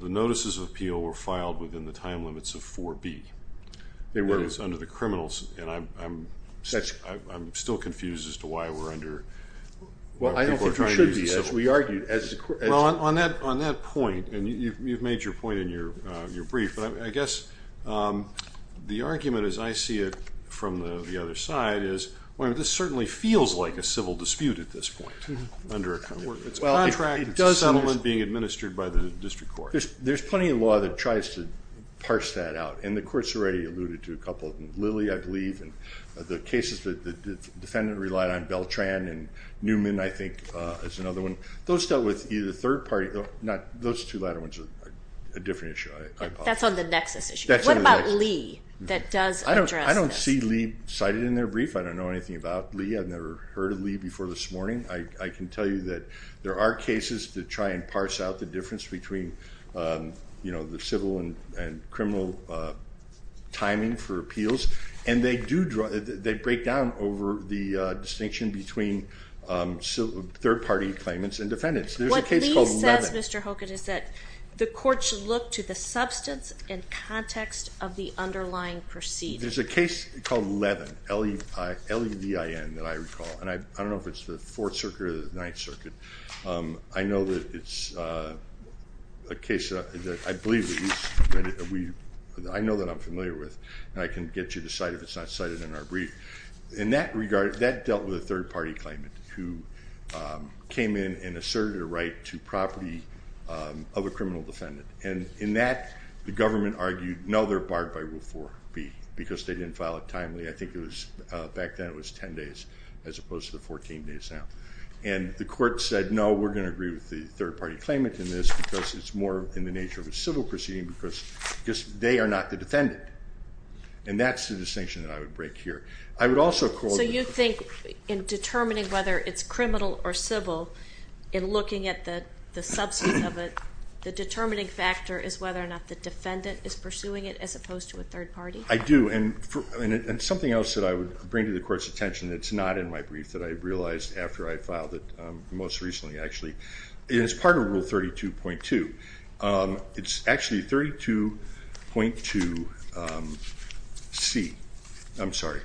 the notices of appeal were filed within the time limits of 4B. They were. That is, under the criminals, and I'm still confused as to why we're under people trying to use the civil court. Well, I don't think we should be. Well, on that point, and you've made your point in your brief, but I guess the argument, as I see it from the other side, is this certainly feels like a civil dispute at this point under a contract. It's a contract. It's a settlement being administered by the district court. There's plenty of law that tries to parse that out, and the court's already alluded to a couple of them. Lilly, I believe, and the cases that the defendant relied on, Beltran and Newman, I think, is another one. Those dealt with either third party. Those two latter ones are a different issue, I apologize. That's on the nexus issue. What about Lee that does address this? I don't see Lee cited in their brief. I don't know anything about Lee. I've never heard of Lee before this morning. I can tell you that there are cases to try and parse out the difference between the civil and criminal timing for appeals, and they break down over the distinction between third party claimants and defendants. There's a case called Levin. What Lee says, Mr. Hokett, is that the court should look to the substance and context of the underlying proceeding. There's a case called Levin, L-E-V-I-N, that I recall, and I don't know if it's the Fourth Circuit or the Ninth Circuit. I know that it's a case that I believe that you submitted. I know that I'm familiar with, and I can get you to cite it if it's not cited in our brief. In that regard, that dealt with a third party claimant who came in and asserted a right to property of a criminal defendant. In that, the government argued, no, they're barred by Rule 4B because they didn't file it timely. I think back then it was 10 days as opposed to the 14 days now. And the court said, no, we're going to agree with the third party claimant in this because it's more in the nature of a civil proceeding because they are not the defendant. And that's the distinction that I would break here. So you think in determining whether it's criminal or civil, in looking at the substance of it, the determining factor is whether or not the defendant is pursuing it as opposed to a third party? Yes, and it's not in my brief that I realized after I filed it most recently, actually. It's part of Rule 32.2. It's actually 32.2C. I'm sorry,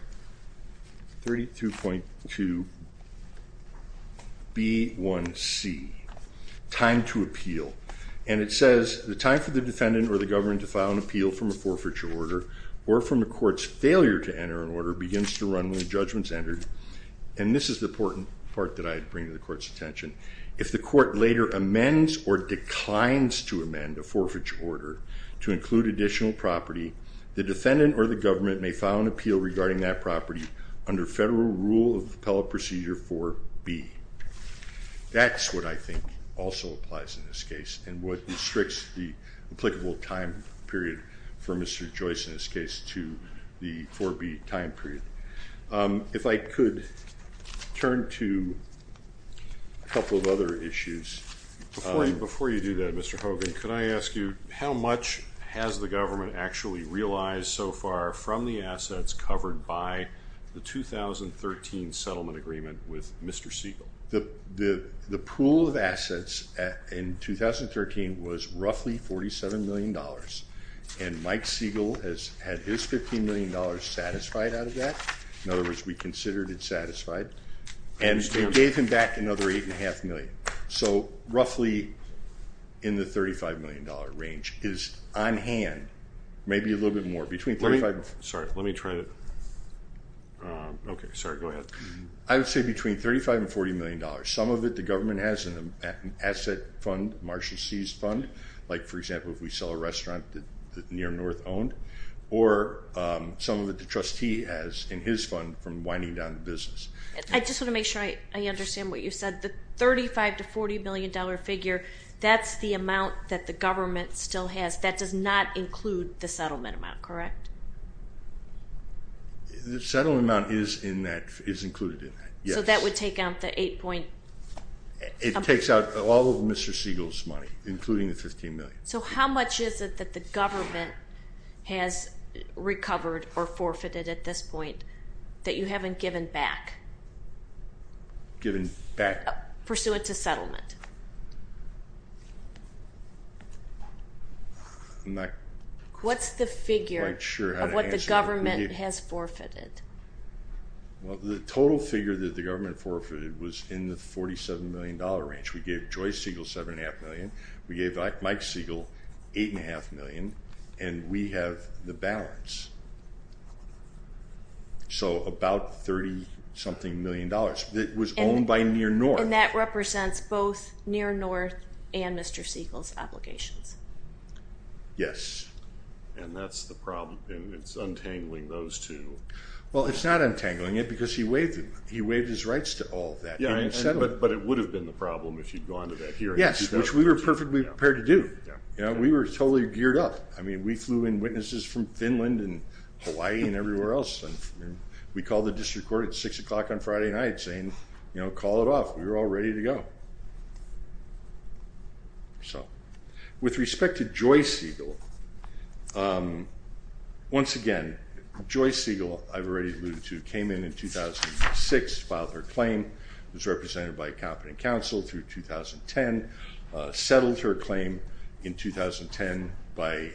32.2B1C, time to appeal. And it says, the time for the defendant or the government to file an appeal from a forfeiture order or from a court's failure to enter an order begins to run when judgment is entered. And this is the important part that I bring to the court's attention. If the court later amends or declines to amend a forfeiture order to include additional property, the defendant or the government may file an appeal regarding that property under federal rule of appellate procedure 4B. That's what I think also applies in this case and what restricts the applicable time period for Mr. Joyce in this case to the 4B time period. If I could turn to a couple of other issues. Before you do that, Mr. Hogan, could I ask you how much has the government actually realized so far from the assets covered by the 2013 settlement agreement with Mr. Siegel? The pool of assets in 2013 was roughly $47 million. And Mike Siegel has had his $15 million satisfied out of that. In other words, we considered it satisfied. And we gave him back another $8.5 million. So roughly in the $35 million range is on hand maybe a little bit more. Sorry, let me try to... Okay, sorry, go ahead. I would say between $35 and $40 million. Some of it the government has in an asset fund, Marshall C's fund, like, for example, if we sell a restaurant that Near North owned, or some of it the trustee has in his fund from winding down the business. I just want to make sure I understand what you said. The $35 to $40 million figure, that's the amount that the government still has. That does not include the settlement amount, correct? The settlement amount is included in that, yes. So that would take out the $8.5 million? It takes out all of Mr. Siegel's money, including the $15 million. So how much is it that the government has recovered or forfeited at this point that you haven't given back? Given back? Pursuant to settlement. I'm not quite sure how to answer that. What's the figure of what the government has forfeited? Well, the total figure that the government forfeited was in the $47 million range. We gave Joyce Siegel $7.5 million, we gave Mike Siegel $8.5 million, and we have the balance. So about $30-something million that was owned by Near North. And that represents both Near North and Mr. Siegel's applications? Yes. And that's the problem, it's untangling those two. Well, it's not untangling it because he waived his rights to all that. But it would have been the problem if you'd gone to that hearing. Yes, which we were perfectly prepared to do. We were totally geared up. I mean, we flew in witnesses from Finland and Hawaii and everywhere else. We called the district court at 6 o'clock on Friday night saying, you know, call it off, we were all ready to go. With respect to Joyce Siegel, once again, Joyce Siegel, I've already alluded to, came in in 2006, filed her claim, was represented by a competent counsel through 2010, settled her claim in 2010 by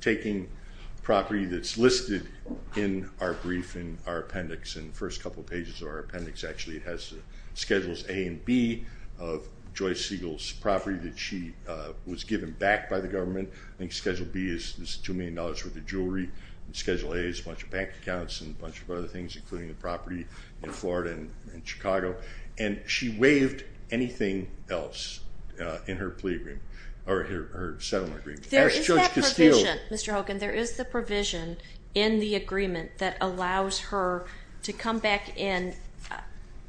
taking property that's listed in our brief, in our appendix, in the first couple of pages of our appendix, actually it has schedules A and B of Joyce Siegel's property that she was given back by the government. I think schedule B is $2 million worth of jewelry. Schedule A is a bunch of bank accounts and a bunch of other things, including the property in Florida and Chicago. And she waived anything else in her settlement agreement. There is that provision, Mr. Hogan, there is the provision in the agreement that allows her to come back in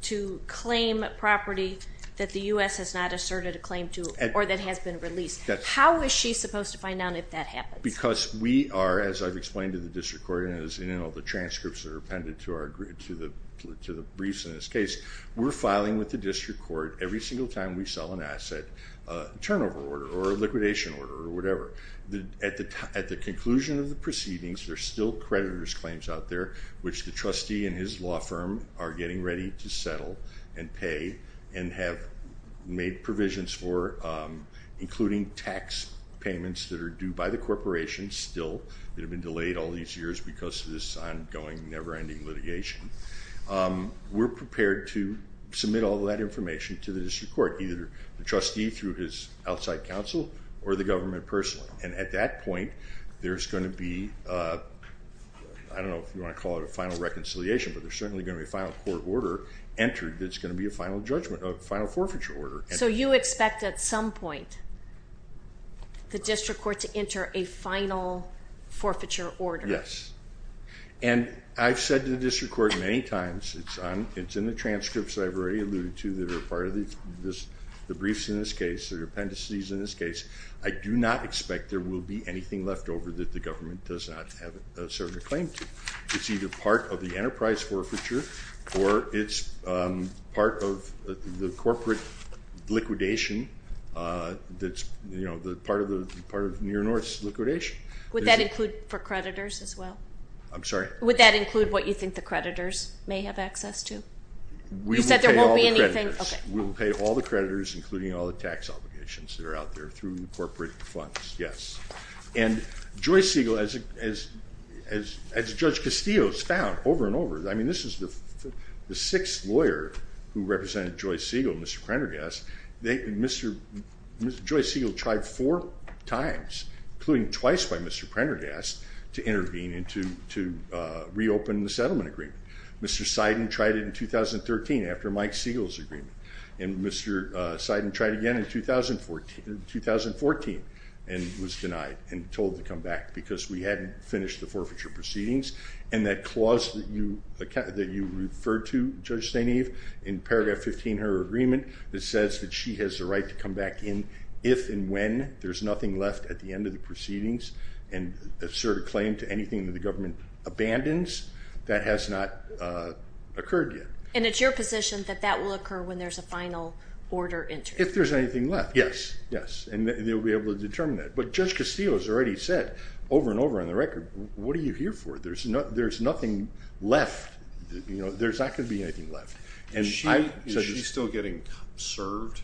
to claim property that the U.S. has not asserted a claim to or that has been released. How is she supposed to find out if that happens? Because we are, as I've explained to the district court, as in all the transcripts that are appended to the briefs in this case, we're filing with the district court every single time we sell an asset turnover order or a liquidation order or whatever. At the conclusion of the proceedings, there are still creditor's claims out there which the trustee and his law firm are getting ready to settle and pay and have made provisions for, including tax payments that are due by the corporation still that have been delayed all these years because of this ongoing, never-ending litigation. We're prepared to submit all that information to the district court, either the trustee through his outside counsel or the government personally. And at that point, there's going to be, I don't know if you want to call it a final reconciliation, but there's certainly going to be a final court order entered that's going to be a final judgment, a final forfeiture order. So you expect at some point the district court to enter a final forfeiture order? Yes. And I've said to the district court many times, it's in the transcripts that I've already alluded to that are part of the briefs in this case, the appendices in this case. I do not expect there will be anything left over that the government does not have a certain claim to. It's either part of the enterprise forfeiture or it's part of the corporate liquidation that's, you know, part of Near North's liquidation. Would that include for creditors as well? I'm sorry? Would that include what you think the creditors may have access to? You said there won't be anything? We will pay all the creditors, including all the tax obligations that are out there through corporate funds. Yes. And Joyce Siegel, as Judge Castillo has found over and over, I mean this is the sixth lawyer who represented Joyce Siegel, Mr. Prendergast. Joyce Siegel tried four times, including twice by Mr. Prendergast, to intervene and to reopen the settlement agreement. Mr. Seiden tried it in 2013 after Mike Siegel's agreement. And Mr. Seiden tried it again in 2014 and was denied and told to come back because we hadn't finished the forfeiture proceedings. And that clause that you referred to, Judge Staineve, in paragraph 15 of her agreement that says that she has the right to come back in if and when there's nothing left at the end of the proceedings and assert a claim to anything that the government abandons, that has not occurred yet. And it's your position that that will occur when there's a final order entered? If there's anything left, yes. Yes. And they'll be able to determine that. But Judge Castillo has already said over and over on the record, what are you here for? There's nothing left. There's not going to be anything left. Is she still getting served?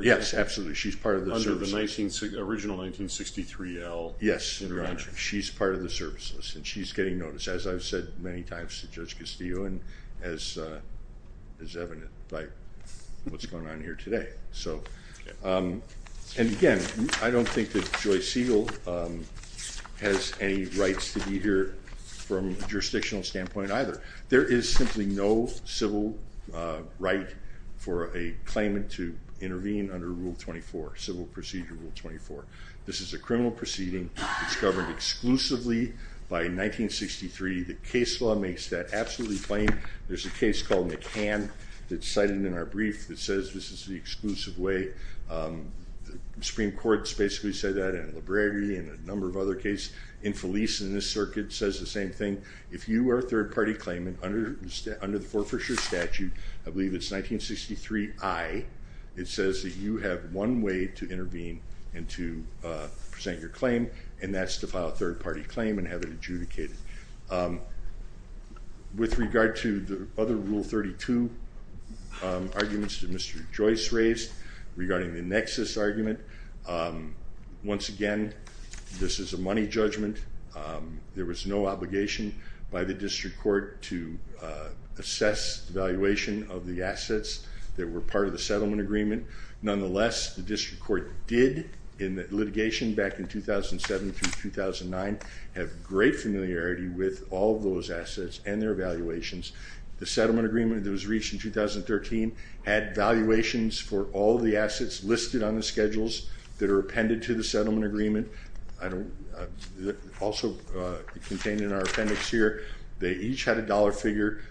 Yes, absolutely. She's part of the services. Under the original 1963L contract. Yes. She's part of the services and she's getting noticed. As I've said many times to Judge Castillo and as is evident by what's going on here today. And again, I don't think that Joyce Siegel has any rights to be here from a jurisdictional standpoint either. There is simply no civil right for a claimant to intervene under Rule 24, Civil Procedure Rule 24. This is a criminal proceeding. It's governed exclusively by 1963. The case law makes that absolutely plain. There's a case called McCann that's cited in our brief that says this is the exclusive way. The Supreme Court has basically said that in Liberty and a number of other cases. Infelice in this circuit says the same thing. If you are a third-party claimant under the Fort Fisher statute, I believe it's 1963I, it says that you have one way to intervene and to present your claim and that's to file a third-party claim and have it adjudicated. With regard to the other Rule 32 arguments that Mr. Joyce raised regarding the nexus argument, once again, this is a money judgment. There was no obligation by the district court to assess the valuation of the assets that were part of the settlement agreement. Nonetheless, the district court did in the litigation back in 2007 through 2009 have great familiarity with all of those assets and their valuations. The settlement agreement that was reached in 2013 had valuations for all the assets listed on the schedules that are appended to the settlement agreement. Also contained in our appendix here, they each had a dollar figure.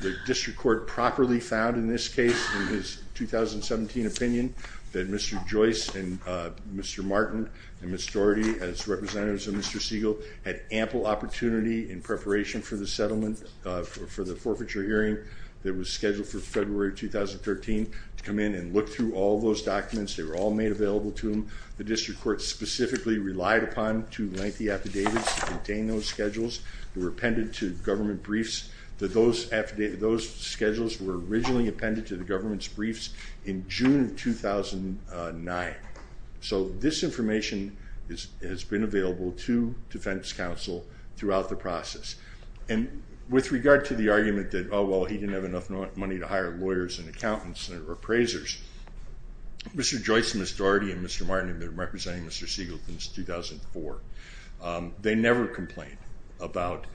The district court properly found in this case in his 2017 opinion that Mr. Joyce and Mr. Martin and Ms. Doherty as representatives of Mr. Siegel had ample opportunity in preparation for the settlement for the forfeiture hearing that was scheduled for February 2013 to come in and look through all those documents. They were all made available to them. The district court specifically relied upon two lengthy affidavits to contain those schedules. They were appended to government briefs. Those schedules were originally appended to the government's briefs in June 2009. So this information has been available to defense counsel throughout the process. And with regard to the argument that, oh, well, he didn't have enough money to hire lawyers and accountants or appraisers, Mr. Joyce, Ms. Doherty, and Mr. Martin have been representing Mr. Siegel since 2004. They never complained about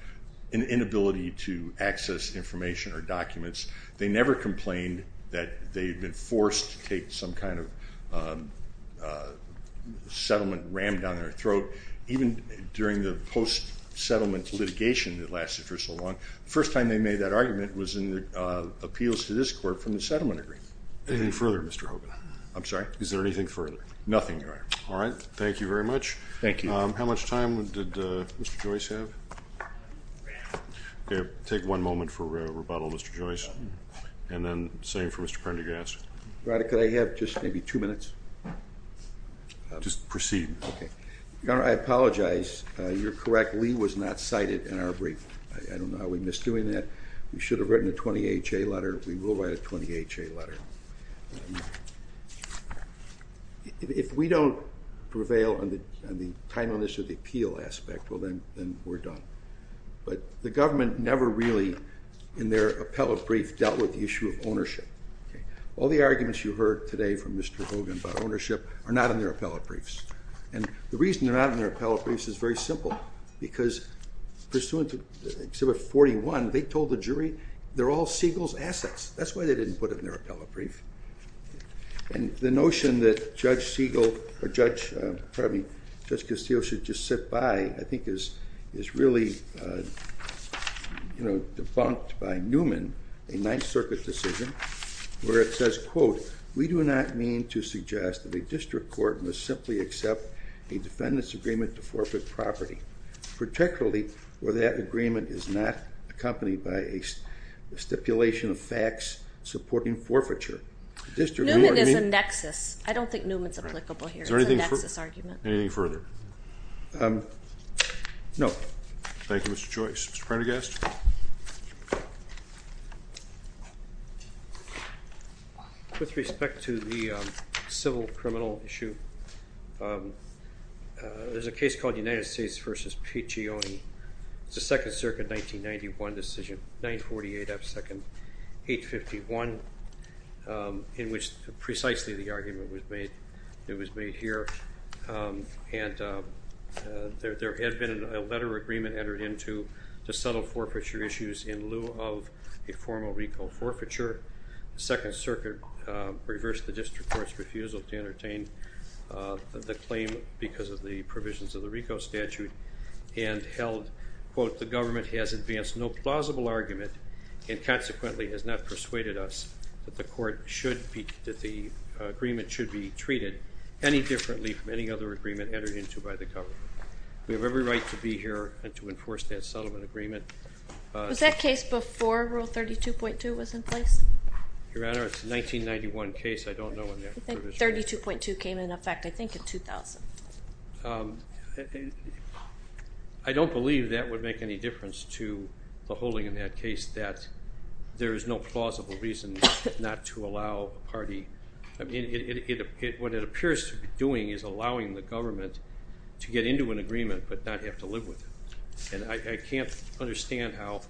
an inability to access information or documents. They never complained that they had been forced to take some kind of settlement ram down their throat. Even during the post-settlement litigation that lasted for so long, the first time they made that argument was in the appeals to this court from the settlement agreement. Anything further, Mr. Hogan? I'm sorry? Is there anything further? Nothing, Your Honor. All right. Thank you very much. Thank you. How much time did Mr. Joyce have? Take one moment for rebuttal, Mr. Joyce. And then same for Mr. Prendergast. Your Honor, could I have just maybe two minutes? Just proceed. Okay. Your Honor, I apologize. You're correct. Lee was not cited in our brief. I don't know how we missed doing that. We should have written a 20HA letter. We will write a 20HA letter. If we don't prevail on the timeliness of the appeal aspect, well, then we're done. But the government never really, in their appellate brief, dealt with the issue of ownership. All the arguments you heard today from Mr. Hogan about ownership are not in their appellate briefs. And the reason they're not in their appellate briefs is very simple, because pursuant to Exhibit 41, they told the jury they're all Siegel's assets. That's why they didn't put them in their appellate brief. And the notion that Judge Castillo should just sit by, I think, is really debunked by Newman, a Ninth Circuit decision, where it says, quote, we do not mean to suggest that a district court must simply accept a defendant's agreement to forfeit property, particularly where that agreement is not accompanied by a stipulation of X supporting forfeiture. Newman is a nexus. I don't think Newman's applicable here. It's a nexus argument. Anything further? No. Thank you, Mr. Joyce. Mr. Prendergast? With respect to the civil criminal issue, there's a case called United States v. Piccioni. It's a Second Circuit 1991 decision, 948 F. 851, in which precisely the argument was made here. And there had been a letter of agreement entered into to settle forfeiture issues in lieu of a formal RICO forfeiture. The Second Circuit reversed the district court's refusal to entertain the claim because of the provisions of the RICO statute and held, quote, the government has advanced no plausible argument and, consequently, has not persuaded us that the agreement should be treated any differently from any other agreement entered into by the government. We have every right to be here and to enforce that settlement agreement. Was that case before Rule 32.2 was in place? Your Honor, it's a 1991 case. I don't know when that provision was. I think 32.2 came into effect, I think, in 2000. I don't believe that would make any difference to the holding in that case that there is no plausible reason not to allow a party. I mean, what it appears to be doing is allowing the government to get into an agreement but not have to live with it. And I can't understand how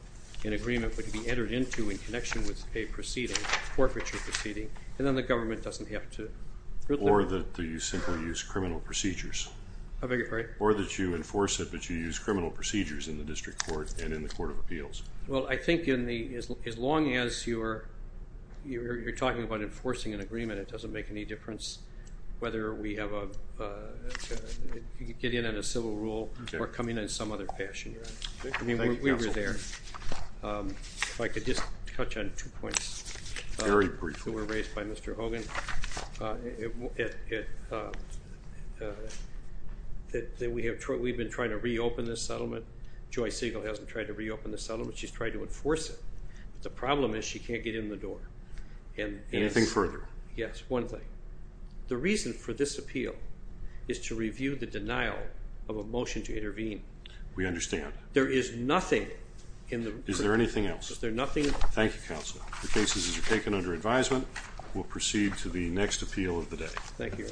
an agreement would be entered into in connection with a proceeding, forfeiture proceeding, and then the government doesn't have to live with it. Or that you simply use criminal procedures. I beg your pardon? Or that you enforce it but you use criminal procedures in the District Court and in the Court of Appeals. Well, I think as long as you're talking about enforcing an agreement, it doesn't make any difference whether we get in on a civil rule or coming in in some other fashion. I mean, we were there. If I could just touch on two points that were raised by Mr. Hogan. We've been trying to reopen this settlement. Joy Siegel hasn't tried to reopen this settlement. She's tried to enforce it. The problem is she can't get in the door. Anything further? Yes, one thing. The reason for this appeal is to review the denial of a motion to intervene. We understand. There is nothing in the report. Is there anything else? Is there nothing? Thank you, Counselor. The cases are taken under advisement. We'll proceed to the next appeal of the day. Thank you.